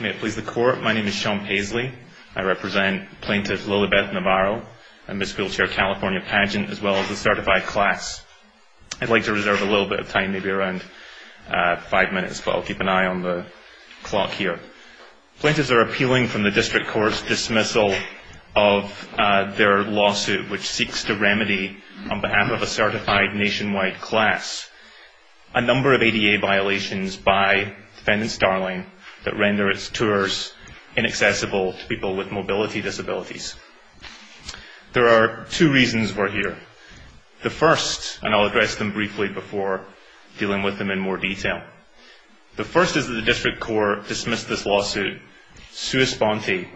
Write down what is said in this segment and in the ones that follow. May it please the court, my name is Sean Paisley. I represent plaintiff Lillibeth Navarro and Miss Wheelchair California pageant as well as a certified class. I'd like to reserve a little bit of time maybe around five minutes but I'll keep an eye on the clock here. Plaintiffs are appealing from the district court's dismissal of their lawsuit which seeks to remedy on behalf of tours inaccessible to people with mobility disabilities. There are two reasons we're here. The first, and I'll address them briefly before dealing with them in more detail, the first is that the district court dismissed this lawsuit sua sponte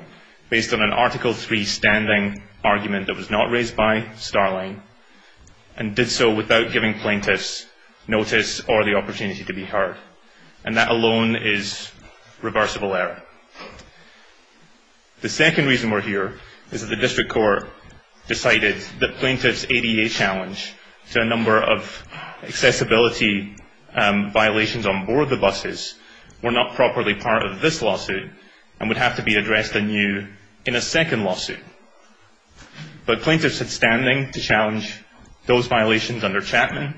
based on an article 3 standing argument that was not raised by Starline and did so without giving plaintiffs notice or the opportunity to be heard. And that alone is reversible error. The second reason we're here is that the district court decided that plaintiff's ADA challenge to a number of accessibility violations on board the buses were not properly part of this lawsuit and would have to be addressed anew in a second lawsuit. But plaintiffs had standing to challenge those violations under Chapman.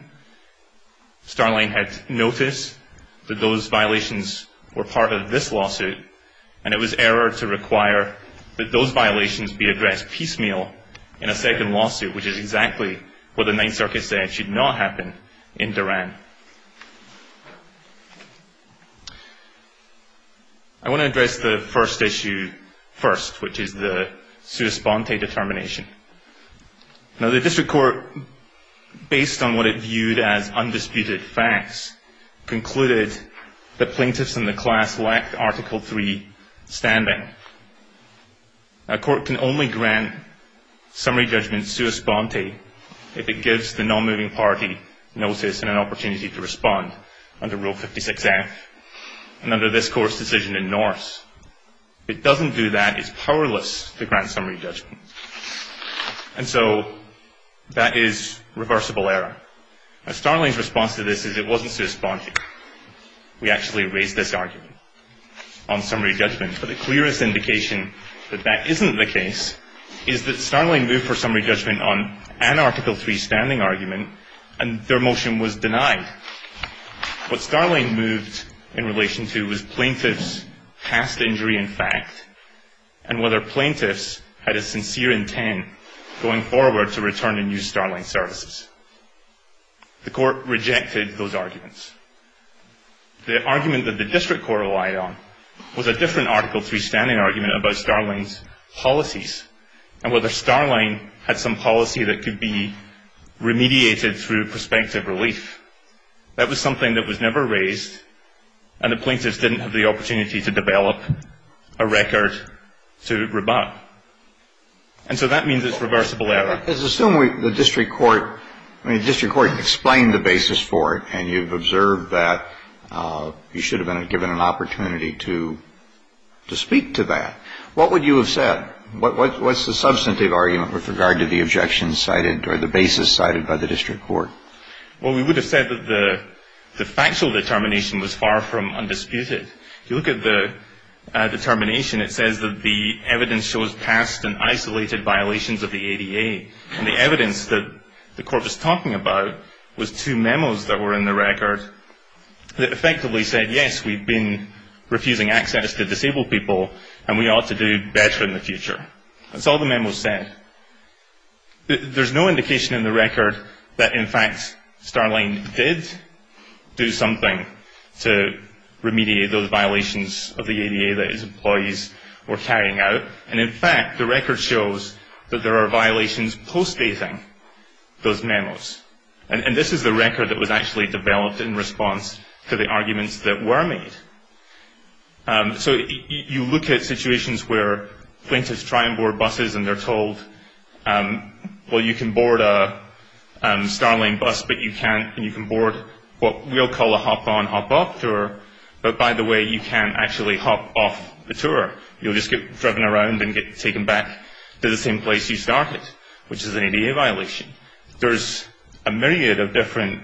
Starline had noticed that those violations were part of this lawsuit and it was error to require that those violations be addressed piecemeal in a second lawsuit which is exactly what the Ninth Circuit said should not happen in Duran. I want to address the first issue first which is the undisputed facts concluded that plaintiffs in the class lacked article 3 standing. A court can only grant summary judgment sua sponte if it gives the non-moving party notice and an opportunity to respond under Rule 56F and under this court's decision in Norse. It doesn't do that, it's powerless to grant summary judgment. And so that is reversible error. Starline's response to this is it wasn't sua sponte. We actually raised this argument on summary judgment but the clearest indication that that isn't the case is that Starline moved for summary judgment on an article 3 standing argument and their motion was denied. What Starline moved in relation to was plaintiff's past injury in fact and whether plaintiffs had a sincere intent going forward to return and use Starline services. The court rejected those arguments. The argument that the district court relied on was a different article 3 standing argument about Starline's policies and whether Starline had some policy that could be remediated through prospective relief. That was something that was never raised and the plaintiffs didn't have the opportunity to develop a record to rebut. And so that means it's reversible error. Let's assume the district court explained the basis for it and you've observed that you should have been given an opportunity to speak to that. What would you have said? What's the substantive argument with regard to the objection cited or the basis cited by the district court? Well, we would have said that the factual determination was far from undisputed. You look at the determination, it says that the evidence shows past and isolated violations of the ADA and the evidence that the court was talking about was two memos that were in the record that effectively said yes, we've been refusing access to disabled people and we ought to do better in the future. That's all the memos said. There's no indication in the record that in fact Starline did do something to remediate those violations of the ADA that his employees were carrying out. And in fact, the record shows that there are violations postdating those memos. And this is the record that was actually developed in response to the arguments that were made. So you look at situations where plaintiffs try and board buses and they're told, well, you can board a Starline bus but you can't and you can board what we'll call a hop-on tour, but by the way, you can't actually hop off the tour. You'll just get driven around and get taken back to the same place you started, which is an ADA violation. There's a myriad of different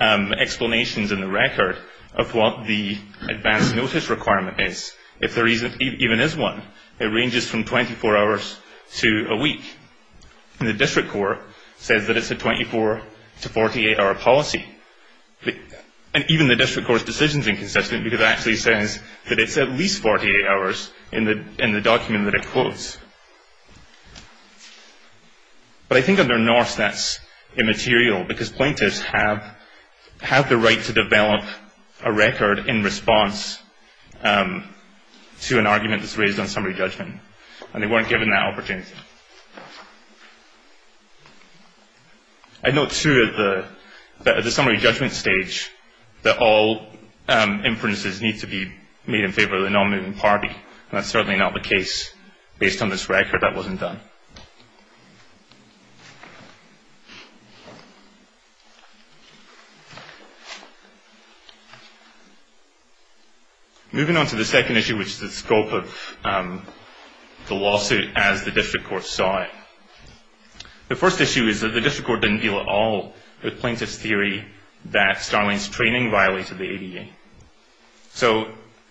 explanations in the record of what the advance notice requirement is. If there even is one, it ranges from 24 hours to a week. And the district court says that it's a 24 to 48-hour policy. And even the district court's decision is inconsistent because it actually says that it's at least 48 hours in the document that it quotes. But I think under Norse that's immaterial because plaintiffs have the right to develop a record in response to an argument that's raised on summary judgment and they weren't given that opportunity. I note, too, that at the summary judgment stage that all inferences need to be made in favor of the nominating party, and that's certainly not the case based on this record that wasn't done. Moving on to the second issue, which is the scope of the lawsuit as the district court saw it. The first issue is that the district court didn't deal at all with plaintiffs' theory that Starling's training violated the ADA. So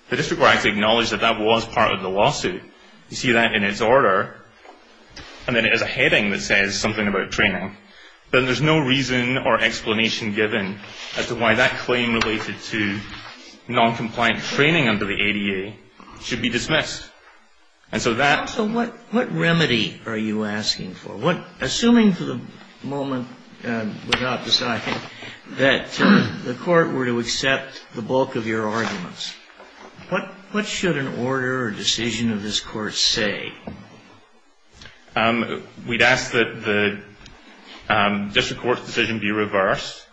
the district court actually acknowledged that that was part of the lawsuit. You see that in its order, and then it has a heading that says something about training. But there's no reason or explanation given as to why that claim related to noncompliant training under the ADA should be dismissed. And so that... So what remedy are you asking for? Assuming for the moment, without deciding, that the court were to accept the bulk of your arguments, what should an order or decision of this court say? We'd ask that the district court's decision be reversed,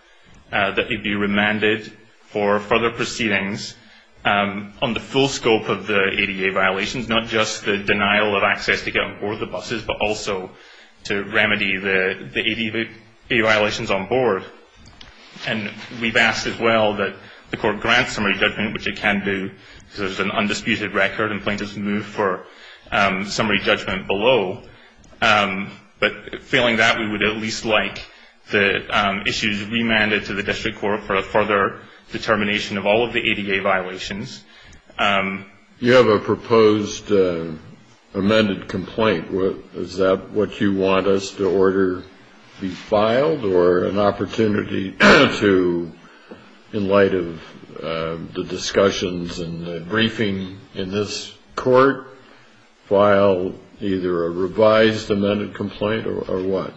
that it be remanded for further proceedings on the full scope of the ADA violations, not just the denial of access to get on board the buses, but also to remedy the ADA violations on board. And we've asked as well that the court grant summary judgment, which it can do because there's an undisputed record and plaintiffs move for summary judgment below. But failing that, we would at least like the issues remanded to the district court for their determination of all of the ADA violations. You have a proposed amended complaint. Is that what you want us to order be filed or an opportunity to, in light of the discussions and the briefing in this court, file either a revised amended complaint or what?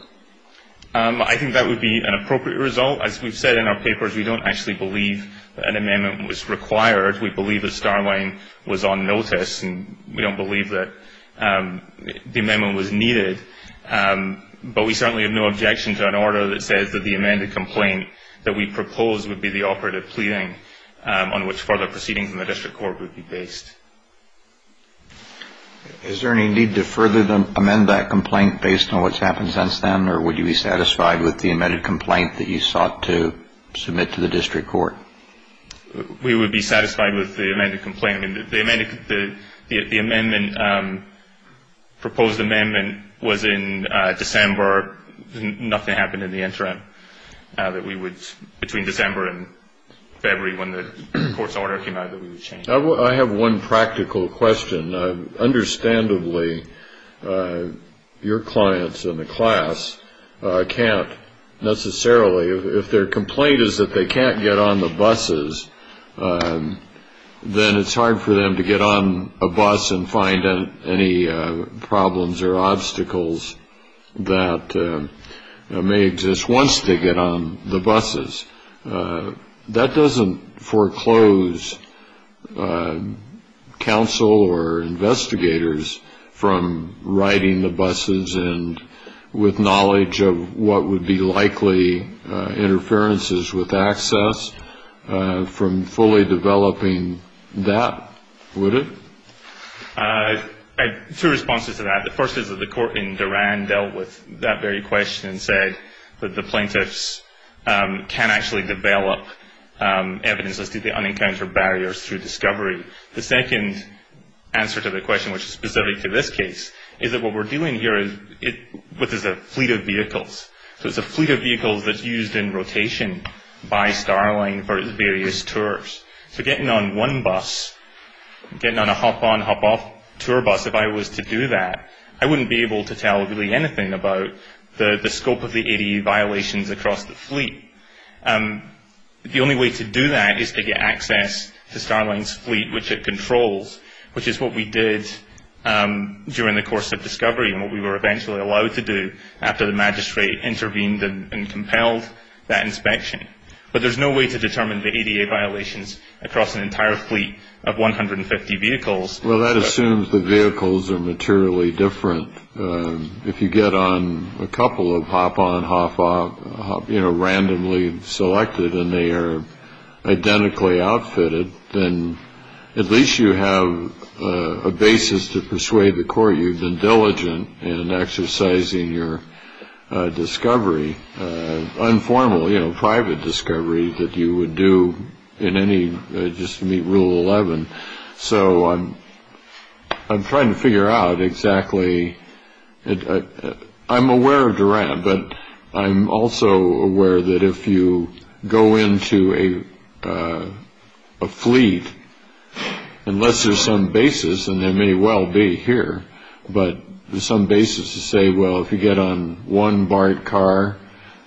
I think that would be an appropriate result. As we've said in our papers, we don't actually believe that an amendment was required. We believe that Starline was on notice and we don't believe that the amendment was needed, but we certainly have no objection to an order that says that the amended complaint that we propose would be the operative pleading on which further proceedings in the district court would be based. Is there any need to further amend that complaint based on what's happened since then or would you be satisfied with the amended complaint that you sought to submit to the district court? We would be satisfied with the amended complaint. The proposed amendment was in December. Nothing happened in the interim between December and February when the court's order came out that we would change. I have one practical question. Understandably, your clients in the class can't necessarily, if their complaint is that they can't get on the buses, then it's hard for them to get on a bus and find any problems or obstacles that may exist once they get on the buses. That doesn't foreclose counsel or investigators from riding the buses and with knowledge of what would be likely interferences with access from fully developing that, would it? I have two responses to that. The first is that the court in Duran dealt with that very question and said that the court can actually develop evidence as to the unencountered barriers through discovery. The second answer to the question, which is specific to this case, is that what we're dealing here with is a fleet of vehicles. It's a fleet of vehicles that's used in rotation by Starline for its various tours. Getting on one bus, getting on a hop-on, hop-off tour bus, if I was to do that, I wouldn't be able to tell really anything about the scope of the ADA violations across the fleet. The only way to do that is to get access to Starline's fleet, which it controls, which is what we did during the course of discovery and what we were eventually allowed to do after the magistrate intervened and compelled that inspection. But there's no way to determine the ADA violations across an entire fleet of 150 vehicles. Well, that assumes the vehicles are materially different. If you get on a couple of hop-on, hop-off, you know, randomly selected and they are identically outfitted, then at least you have a basis to persuade the court you've been diligent in exercising your discovery, informal, you know, private discovery that you would do in any, just to meet Rule 11. So I'm trying to figure out exactly, I'm aware of Duran, but I'm also aware that if you go into a fleet, unless there's some basis, and there may well be here, but there's some basis to say, well, if you get on one BART car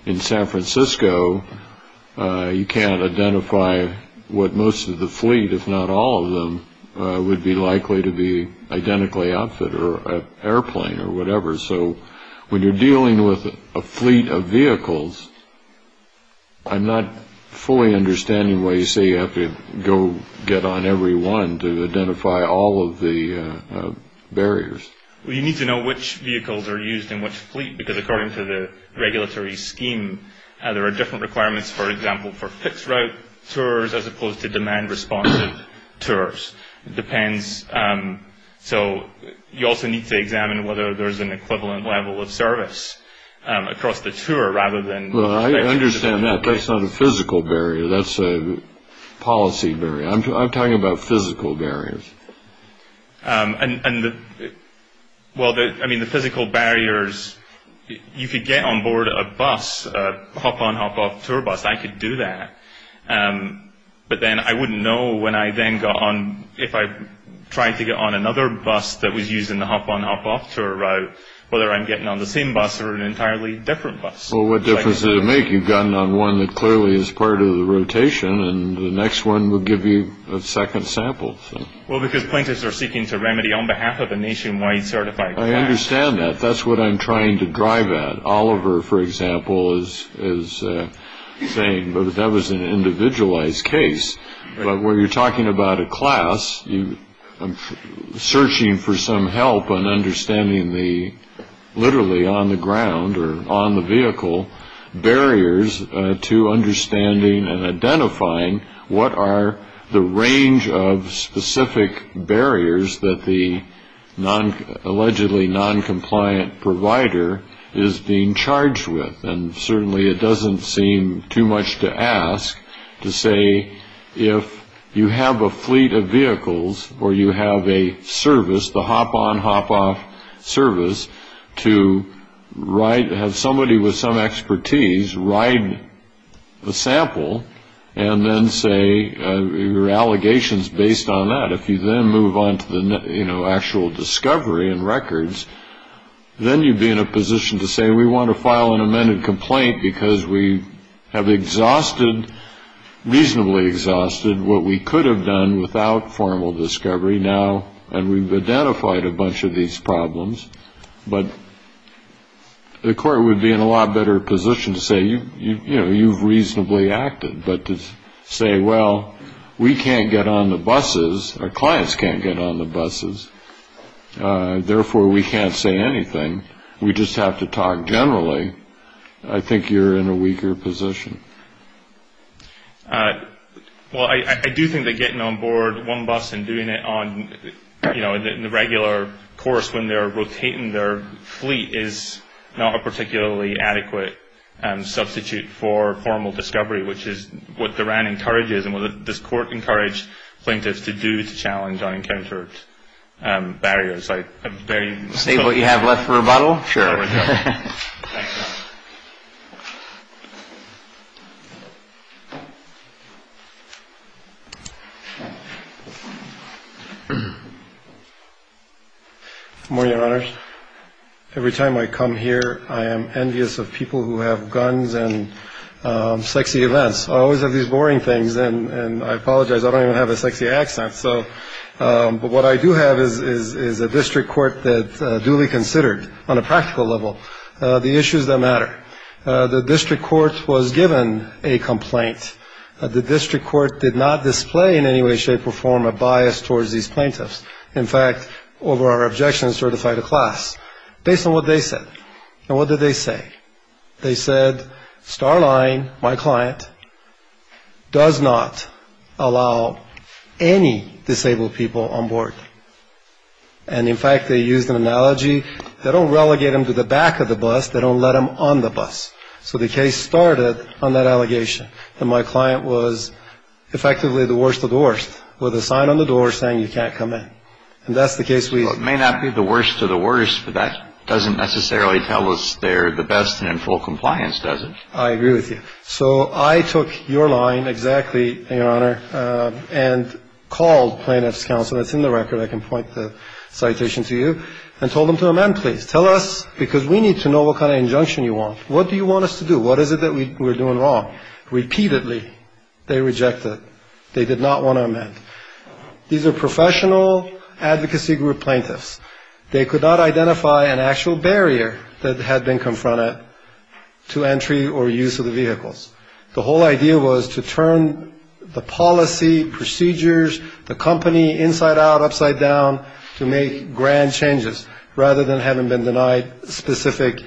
in San Francisco, you can't identify what most of the fleet, if not all of them, would be likely to be identically outfitted or an airplane or whatever. So when you're dealing with a fleet of vehicles, I'm not fully understanding why you say you have to go get on every one to identify all of the barriers. Well, you need to know which vehicles are used in which fleet because according to the regulatory scheme, there are different requirements, for example, for fixed route tours as opposed to demand responsive tours. It depends. So you also need to examine whether there's an equivalent level of service across the tour rather than... Well, I understand that. That's not a physical barrier. That's a policy barrier. I'm talking about physical barriers. And, well, I mean, the physical barriers, you could get on board a bus, a hop-on hop-off tour bus. I could do that. But then I wouldn't know when I then got on, if I tried to get on another bus that was used in the hop-on hop-off tour route, whether I'm getting on the same bus or an entirely different bus. Well, what difference does it make? You've gotten on one that clearly is part of the rotation, and the next one will give you a second sample. Well, because plaintiffs are seeking to remedy on behalf of a nationwide certified client. I understand that. That's what I'm trying to drive at. Oliver, for example, is saying that that was an individualized case. But when you're talking about a class, searching for some help on understanding the literally on the ground or on the vehicle barriers to understanding and identifying what are the And certainly it doesn't seem too much to ask to say if you have a fleet of vehicles or you have a service, the hop-on hop-off service, to have somebody with some expertise ride the sample and then say your allegations based on that. If you then move on to the actual discovery and records, then you'd be in a position to say, we want to file an amended complaint because we have exhausted, reasonably exhausted, what we could have done without formal discovery now. And we've identified a bunch of these problems. But the court would be in a lot better position to say, you've reasonably acted. But to say, well, we can't get on the buses, our clients can't get on the buses, therefore we can't say anything. We just have to talk generally, I think you're in a weaker position. Well, I do think that getting on board one bus and doing it on the regular course when they're rotating their fleet is not a particularly adequate substitute for formal discovery, which is what the RAN encourages and what this court encouraged plaintiffs to do to challenge unencountered barriers. State what you have left for rebuttal? Sure. Good morning, Your Honors. Every time I come here, I am envious of people who have guns and sexy events. I always have these boring things, and I apologize, I don't even have a sexy accent. But what I do have is a district court that's duly considered on a practical level. The issues that matter. The district court was given a complaint. The district court did not display in any way, shape, or form a bias towards these plaintiffs. In fact, over our objections, certified a class. Based on what they said, and what did they say? They said Starline, my client, does not allow any disabled people on board. And in fact, they used an analogy. They don't relegate them to the back of the bus. They don't let them on the bus. So the case started on that allegation. And my client was effectively the worst of the worst with a sign on the door saying you can't come in. And that's the case. We may not be the worst of the worst, but that doesn't necessarily tell us they're the best in full compliance, does it? I agree with you. So I took your line exactly, Your Honor, and called Plaintiff's Counsel. That's in the record. I can point the citation to you. And told them to amend, please. Tell us, because we need to know what kind of injunction you want. What do you want us to do? What is it that we're doing wrong? Repeatedly, they rejected. They did not want to amend. These are professional advocacy group plaintiffs. They could not identify an actual barrier that had been confronted to entry or use of the vehicles. The whole idea was to turn the policy procedures, the company inside out, upside down, to make grand changes rather than having been denied specific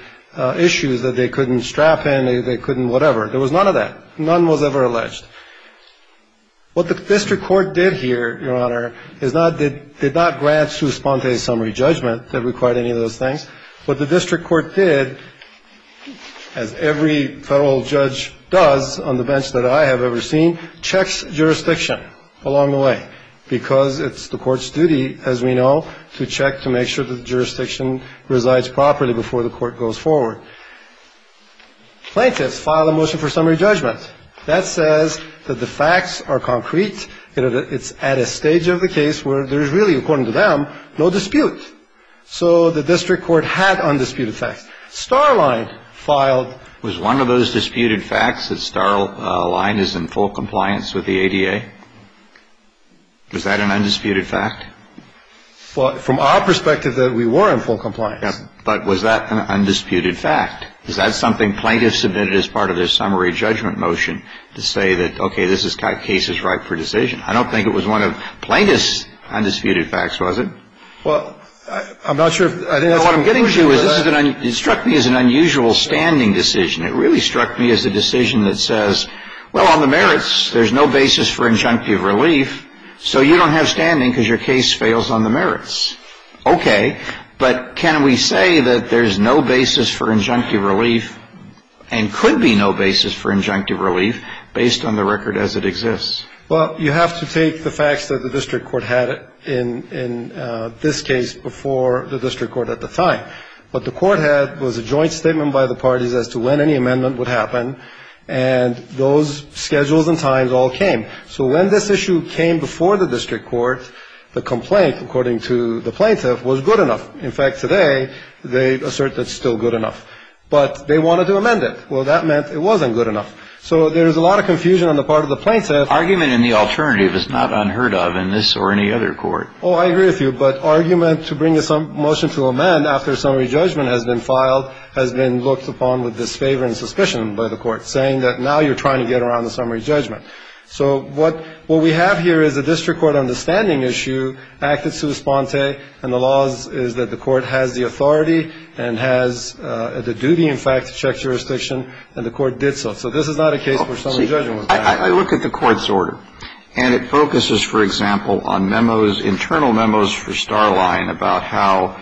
issues that they couldn't strap in, they couldn't whatever. There was none of that. None was ever alleged. What the district court did here, Your Honor, is not, did not grant Sponte a summary judgment that required any of those things. What the district court did, as every federal judge does on the bench that I have ever seen, checks jurisdiction along the way. Because it's the court's duty, as we know, to check to make sure that the jurisdiction resides properly before the court goes forward. Plaintiffs filed a motion for summary judgment. That says that the facts are concrete. It's at a stage of the case where there's really, according to them, no dispute. So the district court had undisputed facts. Starline filed. Was one of those disputed facts that Starline is in full compliance with the ADA? Was that an undisputed fact? Well, from our perspective, that we were in full compliance. But was that an undisputed fact? Is that something plaintiffs submitted as part of their summary judgment motion to say that, okay, this case is ripe for decision? I don't think it was one of plaintiffs' undisputed facts, was it? Well, I'm not sure if that's a conclusion to that. What I'm getting to is it struck me as an unusual standing decision. It really struck me as a decision that says, well, on the merits, there's no basis for injunctive relief, so you don't have standing because your case fails on the merits. Okay, but can we say that there's no basis for injunctive relief and could be no basis for injunctive relief based on the record as it exists? Well, you have to take the facts that the district court had in this case before the district court at the time. What the court had was a joint statement by the parties as to when any amendment would happen, and those schedules and times all came. So when this issue came before the district court, the complaint, according to the plaintiff, was good enough. In fact, today, they assert that it's still good enough. But they wanted to amend it. Well, that meant it wasn't good enough. So there's a lot of confusion on the part of the plaintiff. Argument in the alternative is not unheard of in this or any other court. Oh, I agree with you, but argument to bring a motion to amend after summary judgment has been filed has been looked upon with disfavor and suspicion by the court, saying that now you're trying to get around the summary judgment. So what we have here is a district court understanding issue, acted sui sponte, and the law is that the court has the authority and has the duty, in fact, to check jurisdiction, and the court did so. So this is not a case for summary judgment. I look at the court's order, and it focuses, for example, on memos, internal memos for Starline about how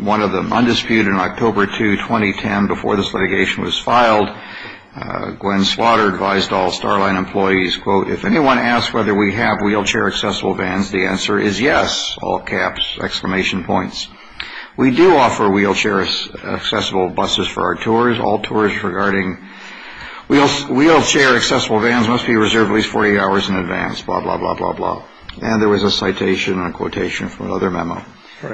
one of the undisputed in October 2, 2010, before this litigation was filed, Gwen Slaughter advised all Starline employees, quote, if anyone asks whether we have wheelchair accessible vans, the answer is yes, all caps, exclamation points. We do offer wheelchair accessible buses for our tours. All tours regarding wheelchair accessible vans must be reserved at least 40 hours in advance, blah, blah, blah, blah, blah. And there was a citation and a quotation from another memo.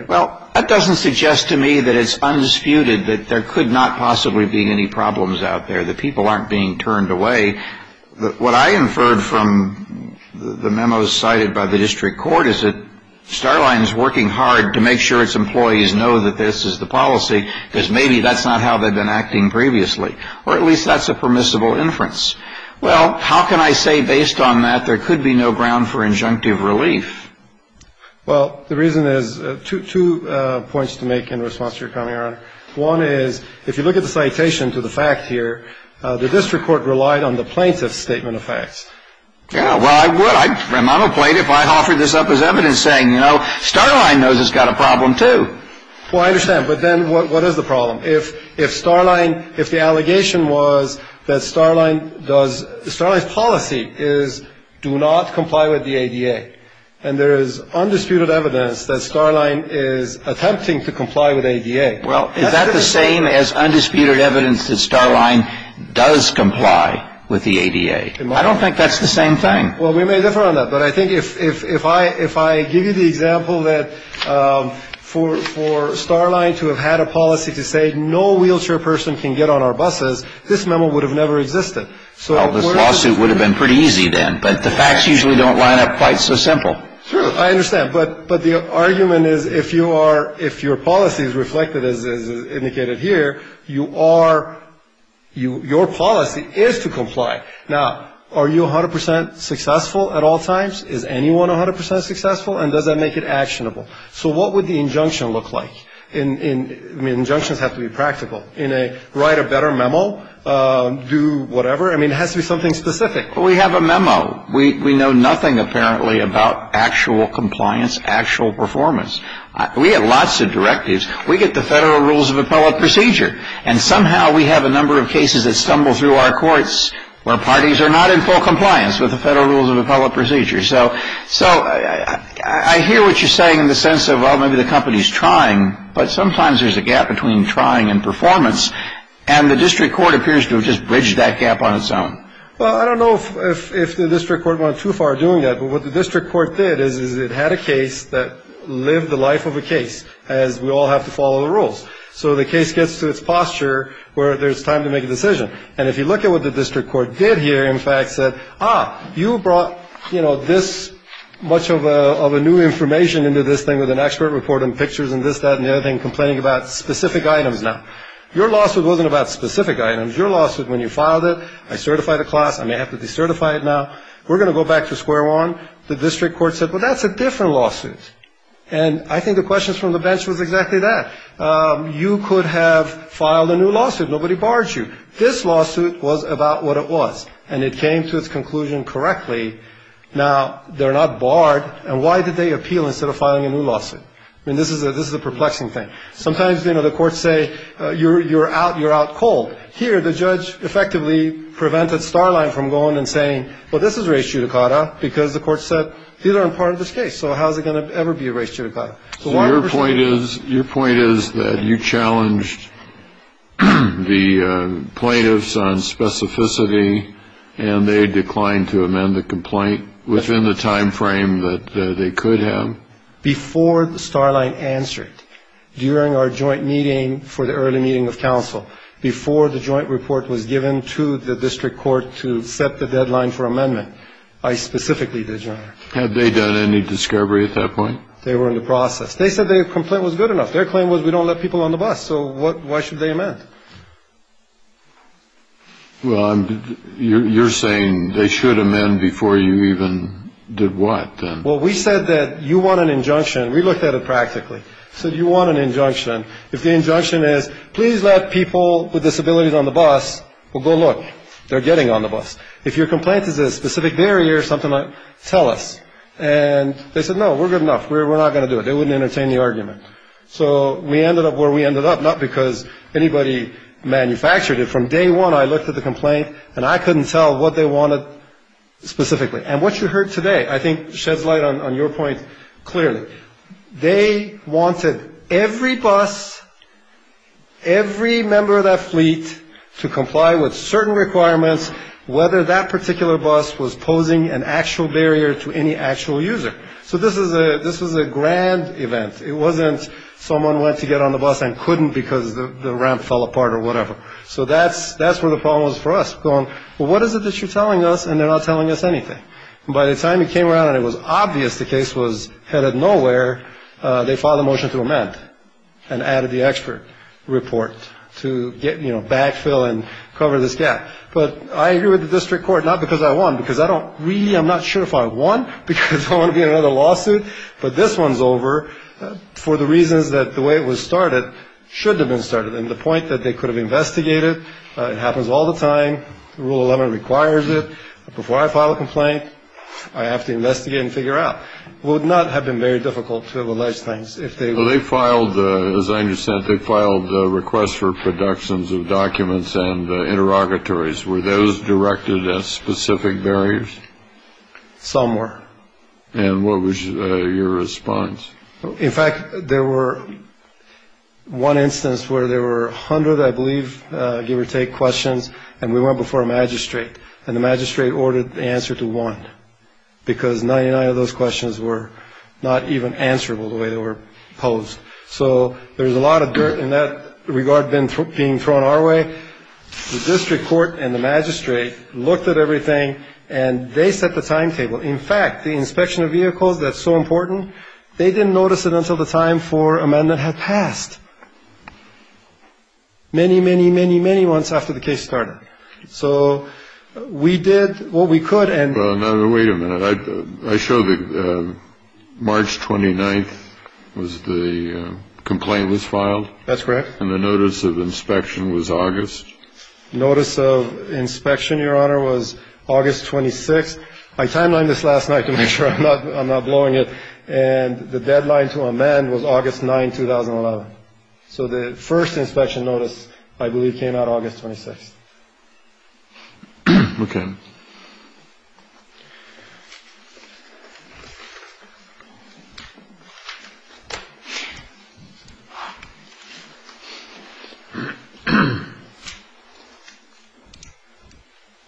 Well, that doesn't suggest to me that it's undisputed that there could not possibly be any problems out there, that people aren't being turned away. What I inferred from the memos cited by the district court is that Starline is working hard to make sure its employees know that this is the policy, because maybe that's not how they've been acting previously, or at least that's a permissible inference. Well, how can I say based on that there could be no ground for injunctive relief? Well, the reason is two points to make in response to your comment, Your Honor. One is, if you look at the citation to the fact here, the district court relied on the plaintiff's statement of facts. Yeah, well, I would. I'm a plaintiff. I offered this up as evidence saying, you know, Starline knows it's got a problem, too. Well, I understand. But then what is the problem? If Starline, if the allegation was that Starline does, Starline's policy is do not comply with the ADA, and there is undisputed evidence that Starline is attempting to comply with the ADA. Well, is that the same as undisputed evidence that Starline does comply with the ADA? I don't think that's the same thing. Well, we may differ on that, but I think if I give you the example that for Starline to have had a policy to say no wheelchair person can get on our buses, this memo would have never existed. So this lawsuit would have been pretty easy then, but the facts usually don't line up quite so simple. I understand. But the argument is if your policy is reflected as indicated here, your policy is to comply. Now, are you 100% successful at all times? Is anyone 100% successful? And does that make it actionable? So what would the injunction look like? I mean, injunctions have to be practical. In a write a better memo, do whatever. I mean, it has to be something specific. We have a memo. We know nothing apparently about actual compliance, actual performance. We have lots of directives. We get the Federal Rules of Appellate Procedure, and somehow we have a number of cases that stumble through our courts where parties are not in full compliance with the Federal Rules of Appellate Procedure. So I hear what you're saying in the sense of, well, maybe the company's trying, but sometimes there's a gap between trying and performance, and the district court appears to have just bridged that gap on its own. Well, I don't know if the district court went too far doing that. But what the district court did is it had a case that lived the life of a case, as we all have to follow the rules. So the case gets to its posture where there's time to make a decision. And if you look at what the district court did here, in fact, said, ah, you brought, you know, this much of a new information into this thing with an expert report and pictures and this, that, and the other thing, complaining about specific items. Now, your lawsuit wasn't about specific items. Your lawsuit, when you filed it, I certify the class. I may have to decertify it now. We're going to go back to square one. The district court said, well, that's a different lawsuit. And I think the questions from the bench was exactly that. You could have filed a new lawsuit. Nobody barred you. This lawsuit was about what it was. And it came to its conclusion correctly. Now, they're not barred. And why did they appeal instead of filing a new lawsuit? I mean, this is a perplexing thing. Sometimes, you know, the courts say, you're out cold. Here, the judge effectively prevented Starline from going and saying, well, this is a race judicata because the court said, these aren't part of this case. So how is it going to ever be a race judicata? So why would we say that? So your point is, your point is that you challenged the plaintiffs on specificity and they declined to amend the complaint within the time frame that they could have? Before Starline answered, during our joint meeting for the early meeting of counsel, before the joint report was given to the district court to set the deadline for amendment. I specifically did, Your Honor. Had they done any discovery at that point? They were in the process. They said their complaint was good enough. Their claim was, we don't let people on the bus. So why should they amend? Well, you're saying they should amend before you even did what then? Well, we said that you want an injunction. We looked at it practically. So you want an injunction. If the injunction is, please let people with disabilities on the bus, well, go look. They're getting on the bus. If your complaint is a specific barrier, something like, tell us. And they said, no, we're good enough. We're not going to do it. They wouldn't entertain the argument. So we ended up where we ended up, not because anybody manufactured it. From day one, I looked at the complaint and I couldn't tell what they wanted specifically. And what you heard today, I think, sheds light on your point clearly. They wanted every bus, every member of that fleet to comply with certain requirements, whether that particular bus was posing an actual barrier to any actual user. So this was a grand event. It wasn't someone went to get on the bus and couldn't because the ramp fell apart or whatever. So that's where the problem was for us. Going, well, what is it that you're telling us? And they're not telling us anything. By the time he came around and it was obvious the case was headed nowhere, they filed a motion to amend and added the expert report to get backfill and cover this gap. But I agree with the district court, not because I won, because I don't really, I'm not sure if I won because I want to be in another lawsuit. But this one's over for the reasons that the way it was started should have been started. And the point that they could have investigated, it happens all the time. Rule 11 requires it. Before I file a complaint, I have to investigate and figure out. Would not have been very difficult to have alleged things if they filed. As I understand, they filed a request for productions of documents and interrogatories were those directed at specific barriers somewhere. And what was your response? In fact, there were one instance where there were 100, I believe, give or take questions. And we went before a magistrate and the magistrate ordered the answer to one. Because 99 of those questions were not even answerable the way they were posed. So there's a lot of dirt in that regard been being thrown our way. The district court and the magistrate looked at everything and they set the timetable. In fact, the inspection of vehicles, that's so important. They didn't notice it until the time for amendment had passed. Many, many, many, many months after the case started. So we did what we could and wait a minute. I show the March 29th was the complaint was filed. That's correct. And the notice of inspection was August notice of inspection. Your honor was August 26. I timeline this last night to make sure I'm not blowing it. And the deadline to amend was August 9, 2011. So the first inspection notice, I believe, came out August 26th. Okay.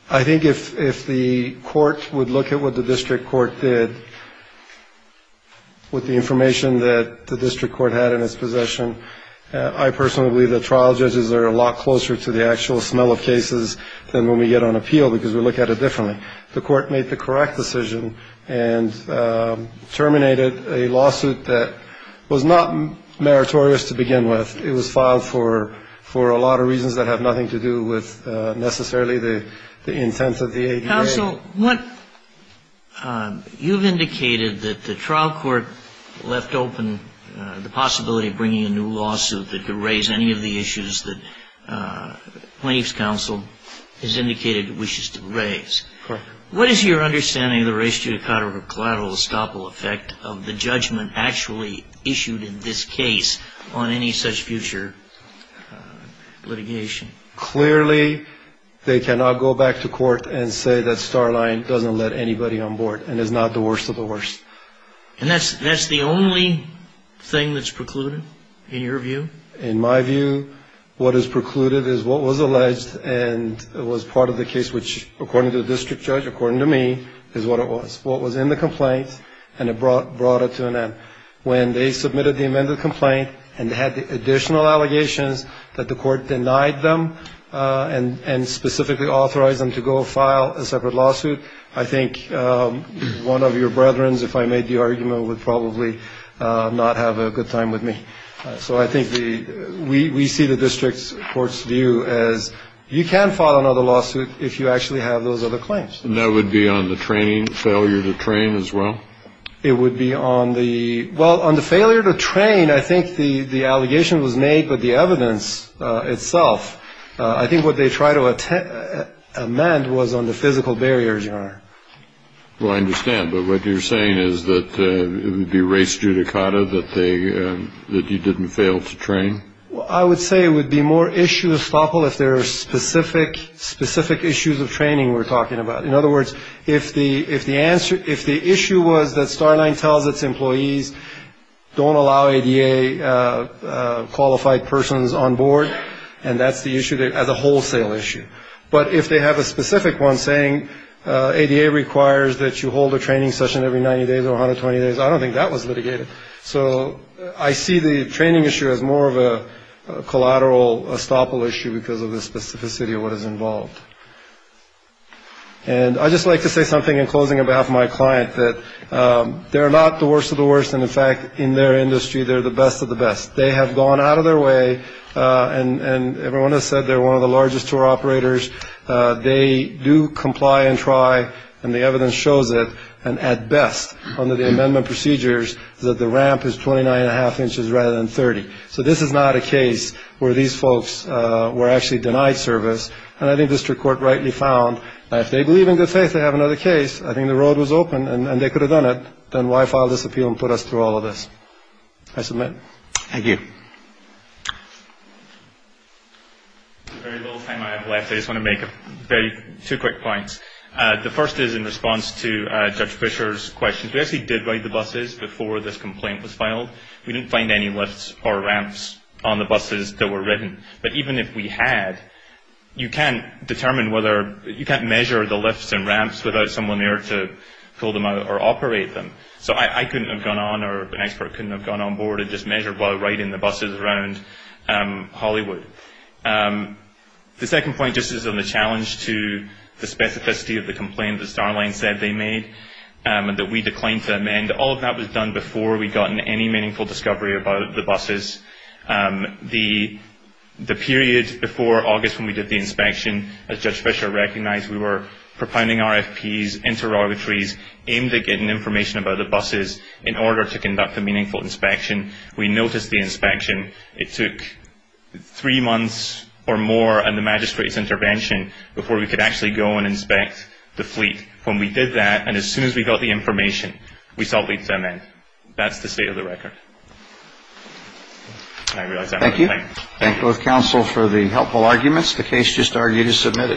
I think if if the court would look at what the district court did. With the information that the district court had in its possession. I personally believe the trial judges are a lot closer to the actual smell of cases than when we get on appeal because we look at it differently. The court made the correct decision and terminated a lawsuit that was not meritorious to begin with. It was filed for for a lot of reasons that have nothing to do with necessarily the intent of the. Also, what you've indicated that the trial court left open the possibility of bringing a new lawsuit that could raise any of the issues that plaintiff's counsel has indicated wishes to raise. What is your understanding of the ratio of collateral estoppel effect of the judgment actually issued in this case on any such future litigation? Clearly, they cannot go back to court and say that Starline doesn't let anybody on board and is not the worst of the worst. And that's that's the only thing that's precluded in your view. In my view, what is precluded is what was alleged. And it was part of the case, which, according to the district judge, according to me, is what it was, what was in the complaint. And it brought brought it to an end when they submitted the amended complaint and had additional allegations that the court denied them and specifically authorized them to go file a separate lawsuit. I think one of your brethrens, if I made the argument, would probably not have a good time with me. So I think we see the district court's view as you can file another lawsuit if you actually have those other claims. And that would be on the training failure to train as well. It would be on the well, on the failure to train. I think the the allegation was made, but the evidence itself, I think what they try to amend was on the physical barriers. Well, I understand, but what you're saying is that it would be race judicata that they that you didn't fail to train. I would say it would be more issue of estoppel if there are specific specific issues of training we're talking about. In other words, if the if the answer if the issue was that Starline tells its employees don't allow a qualified persons on board and that's the issue as a wholesale issue. But if they have a specific one saying ADA requires that you hold a training session every 90 days or 120 days, I don't think that was litigated. So I see the training issue as more of a collateral estoppel issue because of the specificity of what is involved. And I just like to say something in closing about my client that they're not the worst of the worst. And in fact, in their industry, they're the best of the best. They have gone out of their way and everyone has said they're one of the largest tour operators. They do comply and try. And the evidence shows it. And at best, under the amendment procedures, that the ramp is twenty nine and a half inches rather than 30. So this is not a case where these folks were actually denied service. And I think district court rightly found that if they believe in good faith, they have another case. I think the road was open and they could have done it. Then why file this appeal and put us through all of this? I submit. Thank you. Very little time I have left. I just want to make a very two quick points. The first is in response to Judge Fisher's questions. We actually did write the buses before this complaint was filed. We didn't find any lifts or ramps on the buses that were written. But even if we had, you can't determine whether you can't measure the lifts and ramps without someone there to pull them out or operate them. So I couldn't have gone on or an expert couldn't have gone on board and just measured while riding the buses around Hollywood. The second point just is on the challenge to the specificity of the complaint that Starline said they made and that we declined to amend. All of that was done before we'd gotten any meaningful discovery about the buses. The period before August when we did the inspection, as Judge Fisher recognized, we were propounding RFPs, interrogatories, aimed at getting information about the buses in order to conduct a meaningful inspection. We noticed the inspection. It took three months or more and the magistrate's intervention before we could actually go and inspect the fleet. When we did that and as soon as we got the information, we sought leave to amend. That's the state of the record. Thank you. Thank you, counsel, for the helpful arguments. The case just argued is submitted.